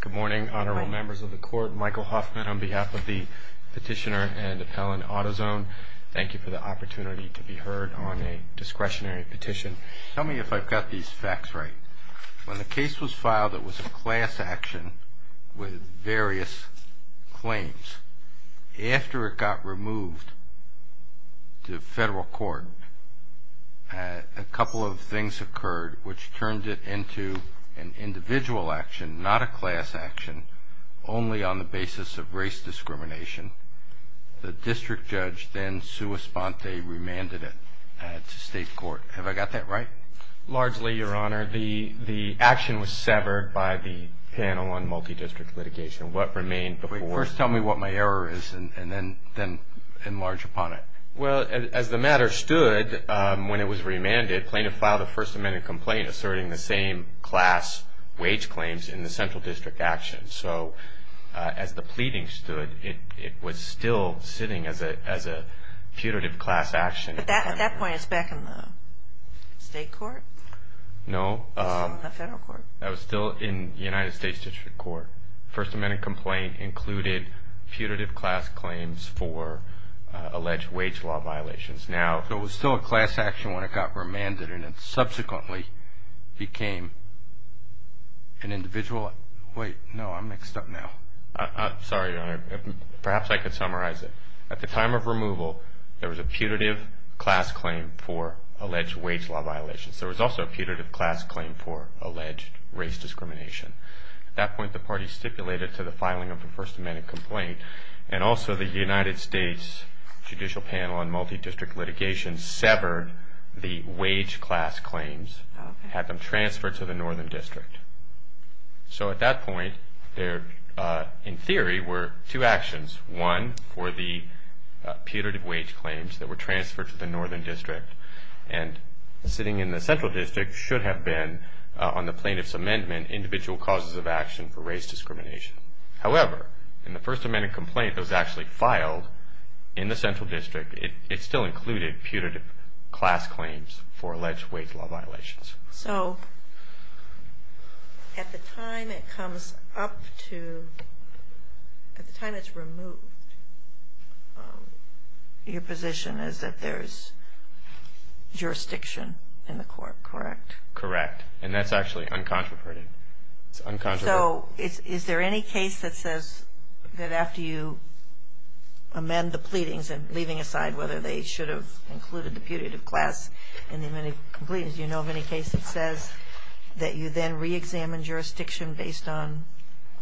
Good morning, honorable members of the court. Michael Hoffman on behalf of the petitioner and appellant Autozone. Thank you for the opportunity to be heard on a discretionary petition. Tell me if I've got these facts right. When the case was filed, it was a class action with various claims. After it got removed to federal court, a couple of things occurred which turned it into an individual action, not a class action, only on the basis of race discrimination. The district judge then sua sponte remanded it to state court. Have I got that right? Largely, your honor. The action was severed by the panel on multi-district litigation. First tell me what my error is and then enlarge upon it. Well, as the matter stood, when it was remanded, plaintiff filed a First Amendment complaint asserting the same class wage claims in the central district action. So, as the pleading stood, it was still sitting as a putative class action. At that point, it's back in the state court? No. The federal court. That was still in the United States District Court. First Amendment complaint included putative class claims for alleged wage law violations. Now, if it was still a class action when it got remanded and it subsequently became an individual, wait, no, I'm mixed up now. Sorry, your honor. Perhaps I could summarize it. At the time of removal, there was a putative class claim for alleged wage law violations. There was also a putative class claim for alleged race discrimination. At that point, the party stipulated to the filing of a First Amendment complaint and also the United States Judicial Panel on Multi-District Litigation severed the wage class claims, had them transferred to the northern district. So, at that point, there, in theory, were two actions. One, for the putative wage claims that were transferred to the northern district and sitting in the central district should have been, on the plaintiff's amendment, individual causes of action for race discrimination. However, in the First Amendment complaint that was actually filed in the central district, it still included putative class claims for alleged wage law violations. So, at the time it comes up to, at the time it's removed, your position is that there's jurisdiction in the court, correct? Correct. And that's actually uncontroverted. So, is there any case that says that after you amend the pleadings and leaving aside whether they should have included the putative class in the amended complete, as you know of any case that says that you then re-examine jurisdiction based on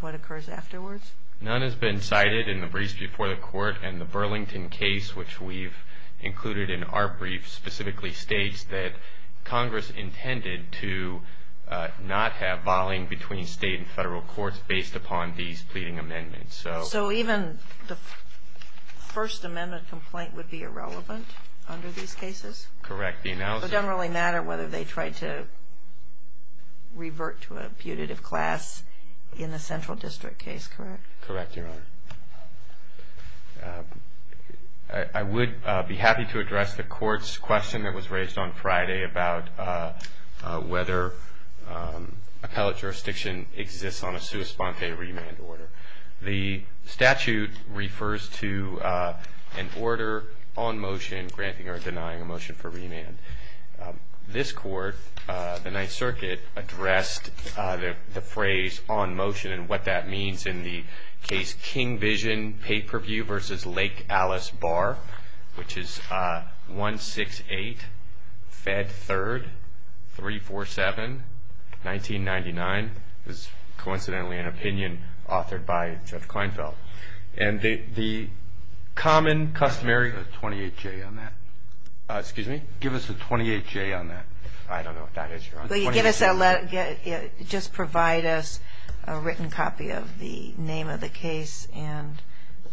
what occurs afterwards? None has been cited in the briefs before the court, and the Burlington case, which we've included in our brief, specifically states that Congress intended to not have volleying between state and federal courts based upon these pleading amendments. So, even the First Amendment complaint would be irrelevant under these cases? Correct. The analysis It doesn't really matter whether they tried to revert to a putative class in the central district case, correct? Correct, Your Honor. I would be happy to address the court's question that was raised on Friday about whether appellate jurisdiction exists on a sua sponte remand order. The statute refers to an order on motion granting or denying a motion for remand. This court, the Ninth Circuit, addressed the phrase on motion and what that means in the case King Vision Pay-Per-View v. Lake Alice Bar, which is 168, Fed 3rd, 347, 1999. It was coincidentally an opinion authored by Judge Kleinfeld. And the common customary Give us a 28-J on that. Excuse me? Give us a 28-J on that. I don't know what that is, Your Honor. Just provide us a written copy of the name of the case and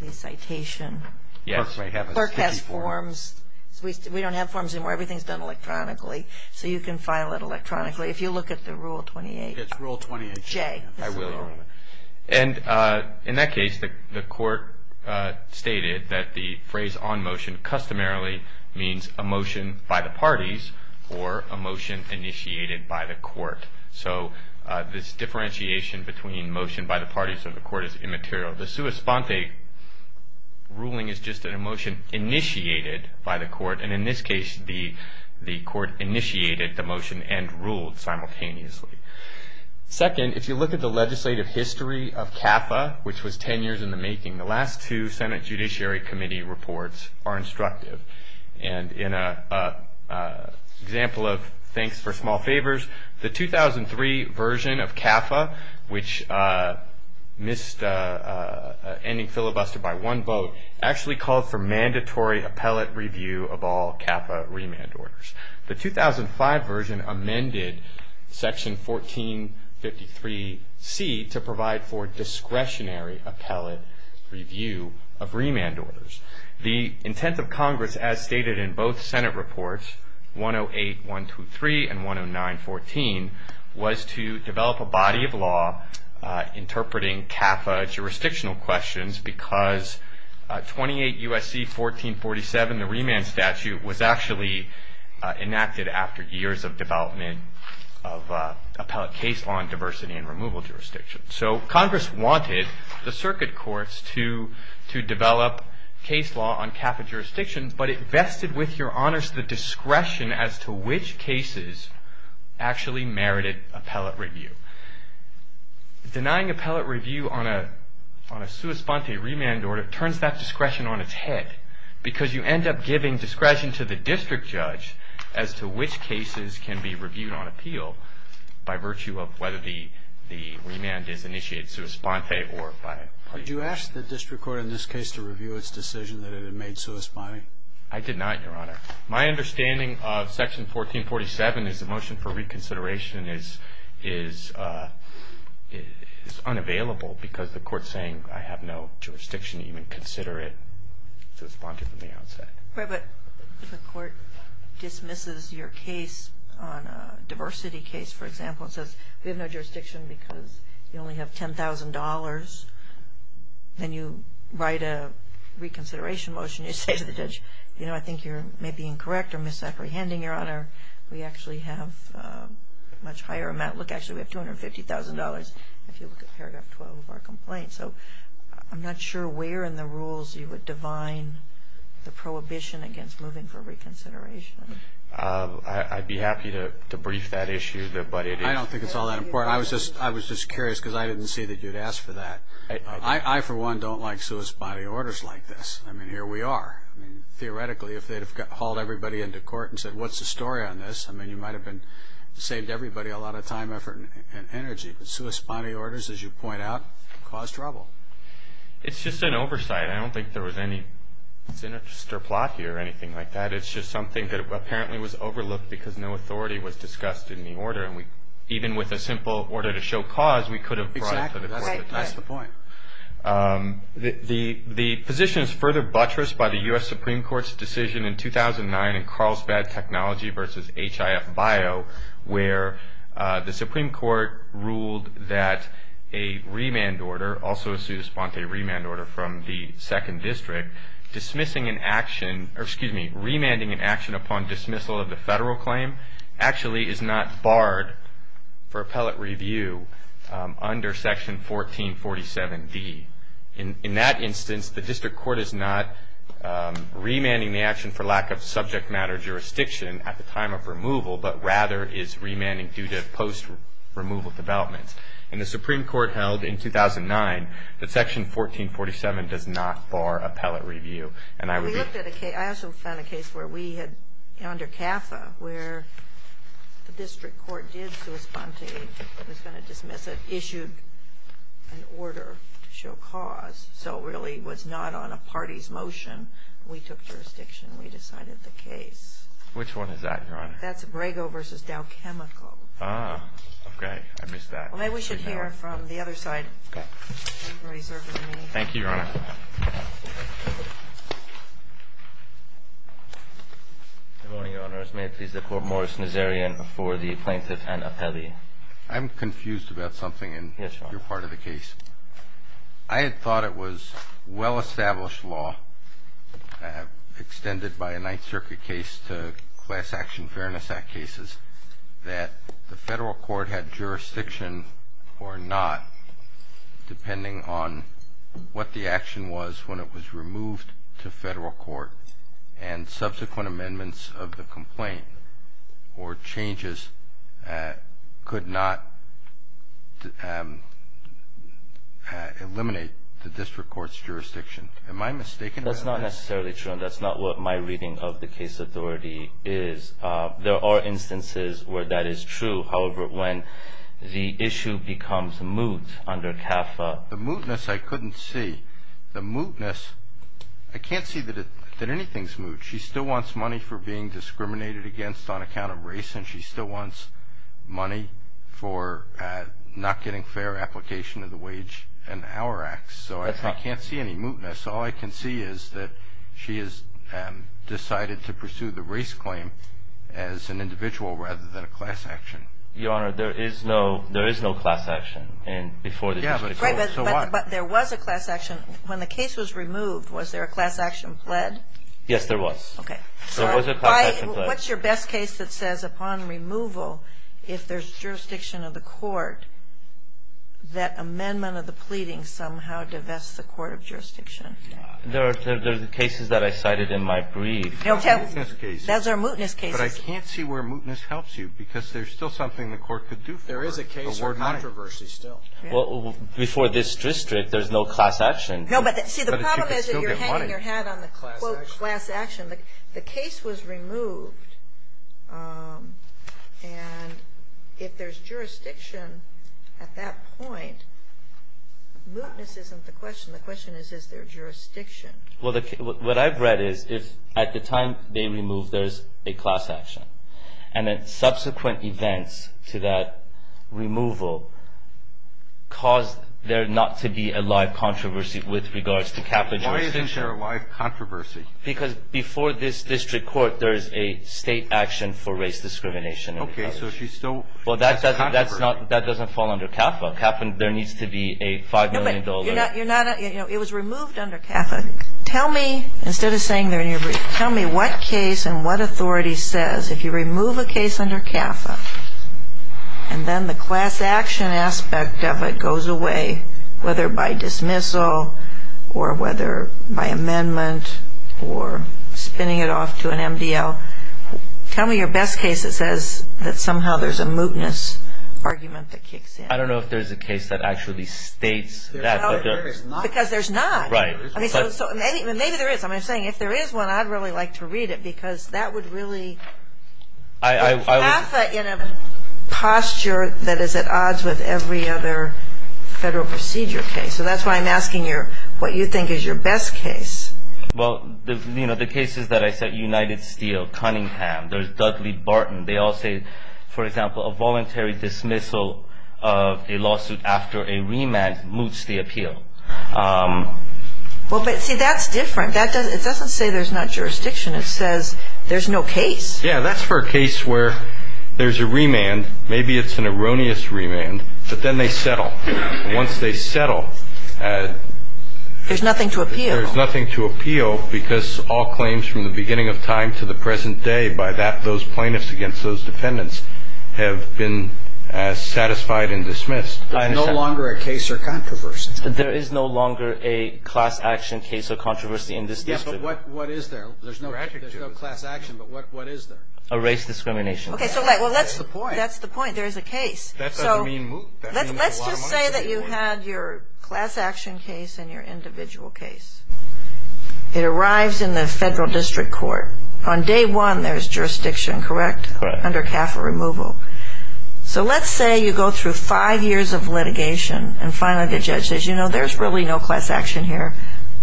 the citation. Yes. Clerk has forms. We don't have forms anymore. Everything's done electronically. So you can file it electronically. If you look at the Rule 28-J. It's Rule 28-J. I will, Your Honor. And in that case, the court stated that the phrase on motion customarily means a motion by the parties or a motion initiated by the court. So this differentiation between motion by the parties or the court is immaterial. The sua sponte ruling is just a motion initiated by the court. And in this case, the court initiated the motion and ruled simultaneously. Second, if you look at the legislative history of CAFA, which was 10 years in the making, the last two Senate Judiciary Committee reports are instructive. And in an example of thanks for small favors, the 2003 version of CAFA, which missed ending filibuster by one vote, actually called for mandatory appellate review of all CAFA remand orders. The 2005 version amended Section 1453C to provide for discretionary appellate review of remand orders. The intent of Congress, as stated in both Senate reports, 108-123 and 109-14, was to develop a body of law interpreting CAFA jurisdictional questions because 28 U.S.C. 1447, the remand statute, was actually enacted after years of development of appellate case law and diversity and removal jurisdiction. So Congress wanted the circuit courts to develop case law on CAFA jurisdictions, but it vested with your honors the discretion as to which cases actually merited appellate review. Denying appellate review on a sua sponte remand order turns that discretion on its head because you end up giving discretion to the district judge as to which cases can be reviewed on appeal by virtue of whether the remand is initiated sua sponte or by appellate. Did you ask the district court in this case to review its decision that it had made sua sponte? I did not, Your Honor. My understanding of Section 1447 is the motion for reconsideration is unavailable because the court is saying I have no jurisdiction to even consider it sua sponte from the outset. But the court dismisses your case on a diversity case, for example, and says we have no jurisdiction because you only have $10,000. Then you write a reconsideration motion. You say to the judge, you know, I think you're maybe incorrect or misapprehending, Your Honor. We actually have a much higher amount. Look, actually, we have $250,000 if you look at paragraph 12 of our complaint. So I'm not sure where in the rules you would divine the prohibition against moving for reconsideration. I'd be happy to brief that issue, but it is. I don't think it's all that important. I was just curious because I didn't see that you'd ask for that. I, for one, don't like sua sponte orders like this. I mean, here we are. Theoretically, if they'd have hauled everybody into court and said what's the story on this, I mean, you might have saved everybody a lot of time, effort, and energy. But sua sponte orders, as you point out, cause trouble. It's just an oversight. I don't think there was any sinister plot here or anything like that. It's just something that apparently was overlooked because no authority was discussed in the order. And even with a simple order to show cause, we could have brought it to the court. Exactly. That's the point. The position is further buttressed by the U.S. Supreme Court's decision in 2009 in Carlsbad Technology v. HIF-BIO where the Supreme Court ruled that a remand order, also a sua sponte remand order from the 2nd District, remanding an action upon dismissal of the federal claim actually is not barred for appellate review under Section 1447D. In that instance, the district court is not remanding the action for lack of subject matter jurisdiction at the time of removal, but rather is remanding due to post-removal developments. And the Supreme Court held in 2009 that Section 1447 does not bar appellate review. I also found a case under CAFA where the district court did sua sponte, was going to dismiss it, issued an order to show cause. So it really was not on a party's motion. We took jurisdiction. We decided the case. Which one is that, Your Honor? That's Brago v. Dow Chemical. Ah, okay. I missed that. Maybe we should hear from the other side. Okay. Thank you, Your Honor. Good morning, Your Honors. May it please the Court, Morris Nazarian for the plaintiff and appellee. I'm confused about something in your part of the case. Yes, Your Honor. I had thought it was well-established law, extended by a Ninth Circuit case to Class Action Fairness Act cases, that the federal court had jurisdiction or not, depending on what the action was when it was removed to federal court and subsequent amendments of the complaint or changes could not eliminate the district court's jurisdiction. Am I mistaken about that? That's not necessarily true, and that's not what my reading of the case authority is. There are instances where that is true. However, when the issue becomes moot under CAFA. The mootness I couldn't see. I can't see that anything's moot. She still wants money for being discriminated against on account of race, and she still wants money for not getting fair application of the wage and hour acts. So I can't see any mootness. All I can see is that she has decided to pursue the race claim as an individual rather than a class action. But there was a class action. When the case was removed, was there a class action pled? Yes, there was. Okay. What's your best case that says upon removal, if there's jurisdiction of the court, that amendment of the pleading somehow divests the court of jurisdiction? There are cases that I cited in my brief. That's our mootness case. But I can't see where mootness helps you because there's still something the court could do for her. There is a case for controversy still. Well, before this district, there's no class action. No, but see, the problem is if you're hanging your hat on the quote class action. The case was removed, and if there's jurisdiction at that point, mootness isn't the question. The question is, is there jurisdiction? Well, what I've read is if at the time they remove, there's a class action, and then subsequent events to that removal cause there not to be a live controversy with regards to CAFA jurisdiction. Why isn't there a live controversy? Because before this district court, there's a state action for race discrimination. Okay. So she's still at controversy. Well, that doesn't fall under CAFA. There needs to be a $5 million. No, but you're not at you know, it was removed under CAFA. Tell me, instead of saying they're in your brief, tell me what case and what authority says if you remove a case under CAFA, and then the class action aspect of it goes away, whether by dismissal or whether by amendment or spinning it off to an MDL. Tell me your best case that says that somehow there's a mootness argument that kicks in. I don't know if there's a case that actually states that. Because there's not. Right. Maybe there is. I'm saying if there is one, I'd really like to read it because that would really CAFA in a posture that is at odds with every other federal procedure case. So that's why I'm asking what you think is your best case. Well, you know, the cases that I said, United Steel, Cunningham, there's Dudley-Barton. They all say, for example, a voluntary dismissal of a lawsuit after a remand moots the appeal. Well, but see, that's different. It doesn't say there's not jurisdiction. It says there's no case. Yeah, that's for a case where there's a remand. Maybe it's an erroneous remand, but then they settle. Once they settle, there's nothing to appeal. There's nothing to appeal because all claims from the beginning of time to the present day, by those plaintiffs against those defendants, have been satisfied and dismissed. There's no longer a case or controversy. There is no longer a class action case or controversy in this district. Yeah, but what is there? There's no class action, but what is there? A race discrimination case. Okay, so that's the point. That's the point. There's a case. So let's just say that you had your class action case and your individual case. It arrives in the federal district court. On day one, there's jurisdiction, correct? Correct. Under CAFA removal. So let's say you go through five years of litigation, and finally the judge says, you know, there's really no class action here.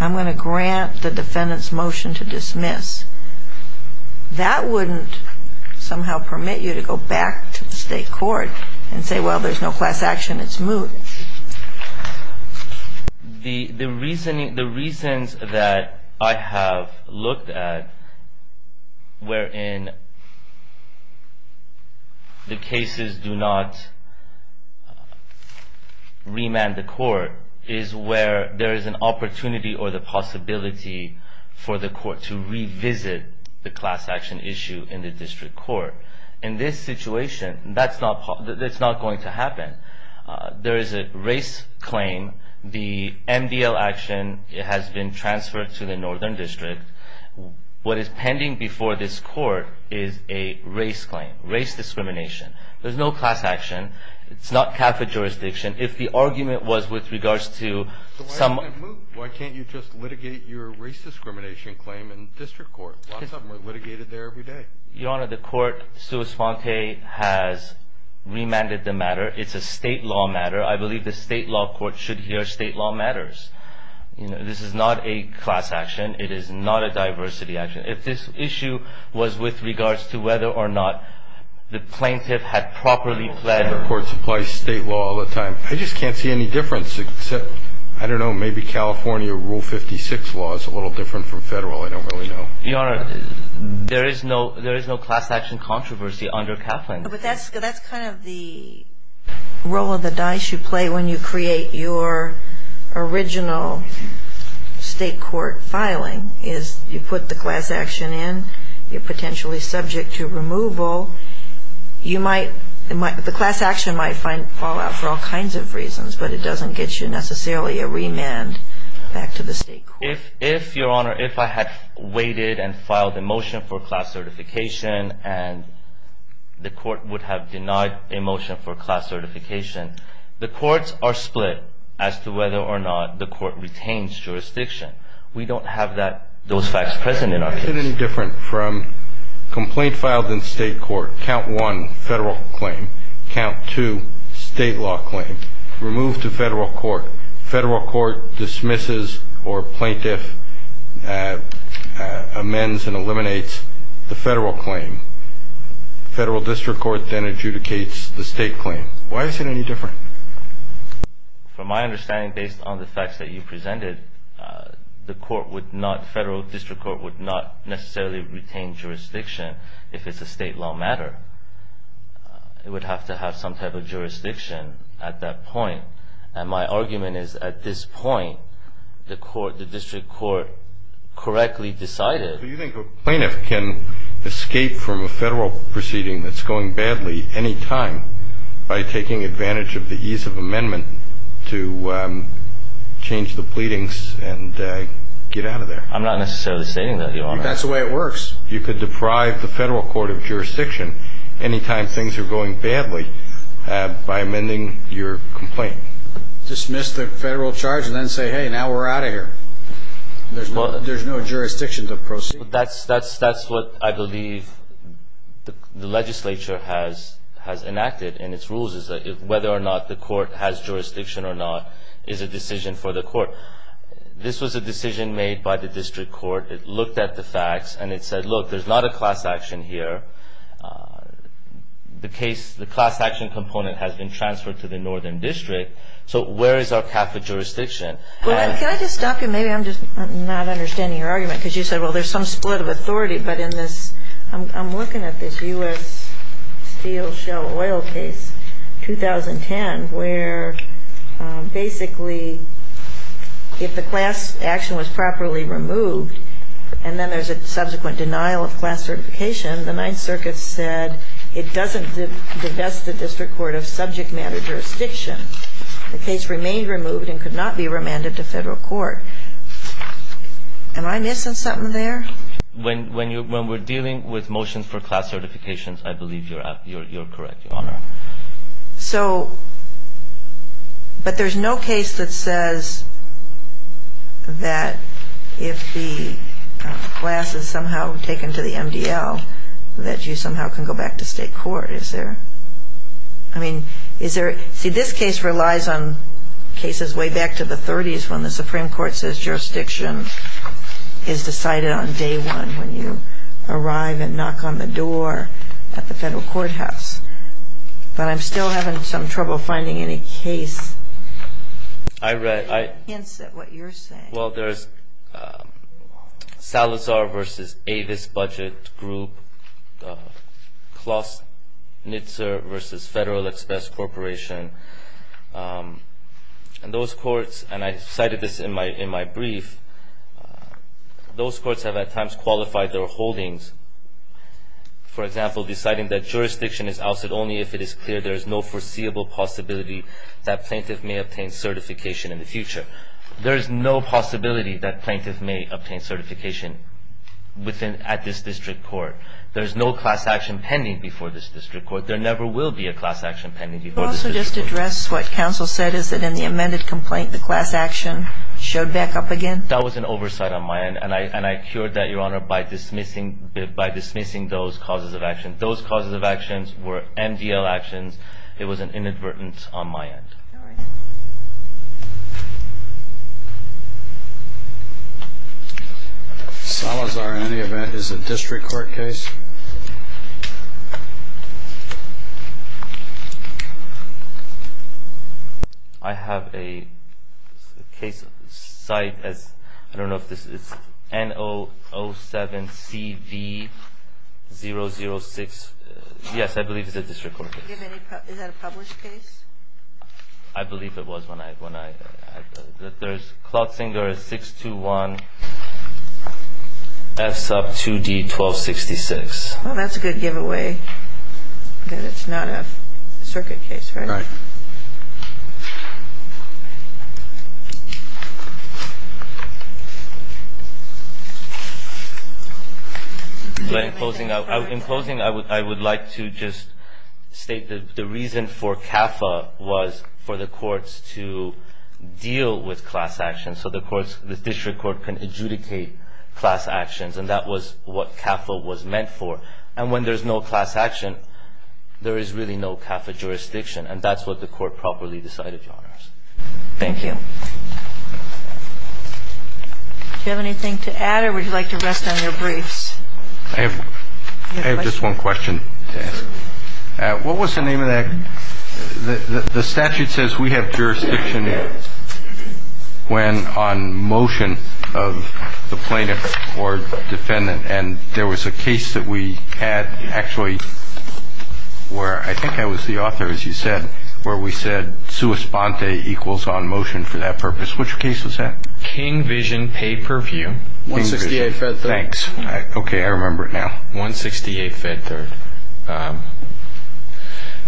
I'm going to grant the defendant's motion to dismiss. That wouldn't somehow permit you to go back to the state court and say, well, there's no class action. It's moot. The reasons that I have looked at wherein the cases do not remand the court is where there is an opportunity or the possibility for the court to revisit the class action issue in the district court. In this situation, that's not going to happen. There is a race claim. The MDL action has been transferred to the northern district. What is pending before this court is a race claim, race discrimination. There's no class action. It's not CAFA jurisdiction. If the argument was with regards to some of the moot, why can't you just litigate your race discrimination claim in district court? Lots of them are litigated there every day. Your Honor, the court sui sponte has remanded the matter. It's a state law matter. I believe the state law court should hear state law matters. This is not a class action. It is not a diversity action. If this issue was with regards to whether or not the plaintiff had properly pled. State courts apply state law all the time. I just can't see any difference except, I don't know, maybe California Rule 56 law is a little different from federal. I don't really know. Your Honor, there is no class action controversy under CAFA. But that's kind of the roll of the dice you play when you create your original state court filing, is you put the class action in, you're potentially subject to removal. The class action might fall out for all kinds of reasons, but it doesn't get you necessarily a remand back to the state court. If, Your Honor, if I had waited and filed a motion for class certification and the court would have denied a motion for class certification, the courts are split as to whether or not the court retains jurisdiction. We don't have those facts present in our case. Is it any different from complaint filed in state court, count one, federal claim, count two, state law claim, removed to federal court, federal court dismisses or plaintiff amends and eliminates the federal claim. Federal district court then adjudicates the state claim. Why is it any different? From my understanding, based on the facts that you presented, the court would not, federal district court would not necessarily retain jurisdiction if it's a state law matter. It would have to have some type of jurisdiction at that point. And my argument is at this point, the court, the district court correctly decided. Do you think a plaintiff can escape from a federal proceeding that's going badly any time by taking advantage of the ease of amendment to change the pleadings and get out of there? I'm not necessarily stating that, Your Honor. That's the way it works. You could deprive the federal court of jurisdiction any time things are going badly by amending your complaint. Dismiss the federal charge and then say, hey, now we're out of here. There's no jurisdiction to proceed. That's what I believe the legislature has enacted in its rules, is whether or not the court has jurisdiction or not is a decision for the court. This was a decision made by the district court. It looked at the facts and it said, look, there's not a class action here. The case, the class action component has been transferred to the northern district. So where is our CAFA jurisdiction? Can I just stop you? Maybe I'm just not understanding your argument because you said, well, there's some split of authority. But in this, I'm looking at this U.S. steel shell oil case, 2010, where basically if the class action was properly removed, and then there's a subsequent denial of class certification, the Ninth Circuit said it doesn't divest the district court of subject matter jurisdiction. The case remained removed and could not be remanded to federal court. Am I missing something there? When we're dealing with motions for class certifications, I believe you're correct, Your Honor. So, but there's no case that says that if the class is somehow taken to the MDL, that you somehow can go back to state court. Is there? I mean, is there? See, this case relies on cases way back to the 30s when the Supreme Court says jurisdiction is decided on day one when you arrive and knock on the door at the federal courthouse. But I'm still having some trouble finding any case that hints at what you're saying. Well, there's Salazar v. Avis Budget Group, Klosnitzer v. Federal Express Corporation. And those courts, and I cited this in my brief, those courts have at times qualified their holdings, for example, deciding that jurisdiction is ousted only if it is clear there is no foreseeable possibility that plaintiff may obtain certification in the future. There is no possibility that plaintiff may obtain certification at this district court. There is no class action pending before this district court. Can I also just address what counsel said is that in the amended complaint, the class action showed back up again? That was an oversight on my end, and I cured that, Your Honor, by dismissing those causes of action. Those causes of actions were MDL actions. It was an inadvertence on my end. All right. Salazar, in any event, is a district court case? I have a case cite as, I don't know if this is N007CV006. Yes, I believe it's a district court case. Is that a published case? I believe it was when I, there's Klotzinger 621F2D1266. Well, that's a good giveaway that it's not a circuit case, right? Right. In closing, I would like to just state that the reason for CAFA was for the courts to deal with class action so the district court can adjudicate class actions, and that was what CAFA was meant for. And when there's no class action, there is really no CAFA jurisdiction, and that's what the court properly decided, Your Honors. Thank you. Do you have anything to add, or would you like to rest on your briefs? I have just one question to ask. What was the name of that? The statute says we have jurisdiction when on motion of the plaintiff or defendant, and there was a case that we had actually where I think I was the author, as you said, where we said sua sponte equals on motion for that purpose. Which case was that? King Vision Pay Per View. King Vision. 168 Fed 3rd. Thanks. Okay, I remember it now. 168 Fed 3rd.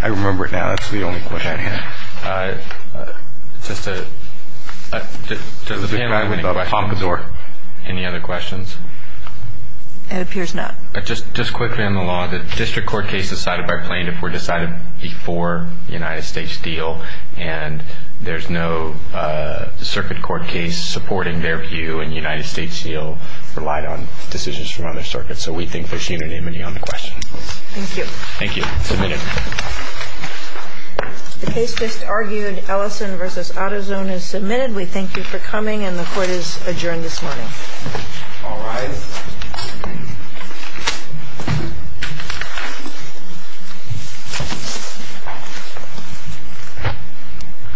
I remember it now. That's the only question I have. Does the panel have any questions? Any other questions? It appears not. Just quickly on the law, the district court case decided by plaintiff were decided before the United States deal, and there's no circuit court case supporting their view, and the United States deal relied on decisions from other circuits, so we think there's unanimity on the question. Thank you. Thank you. It's a minute. The case just argued, Ellison v. AutoZone, is submitted. We thank you for coming, and the court is adjourned this morning. All rise.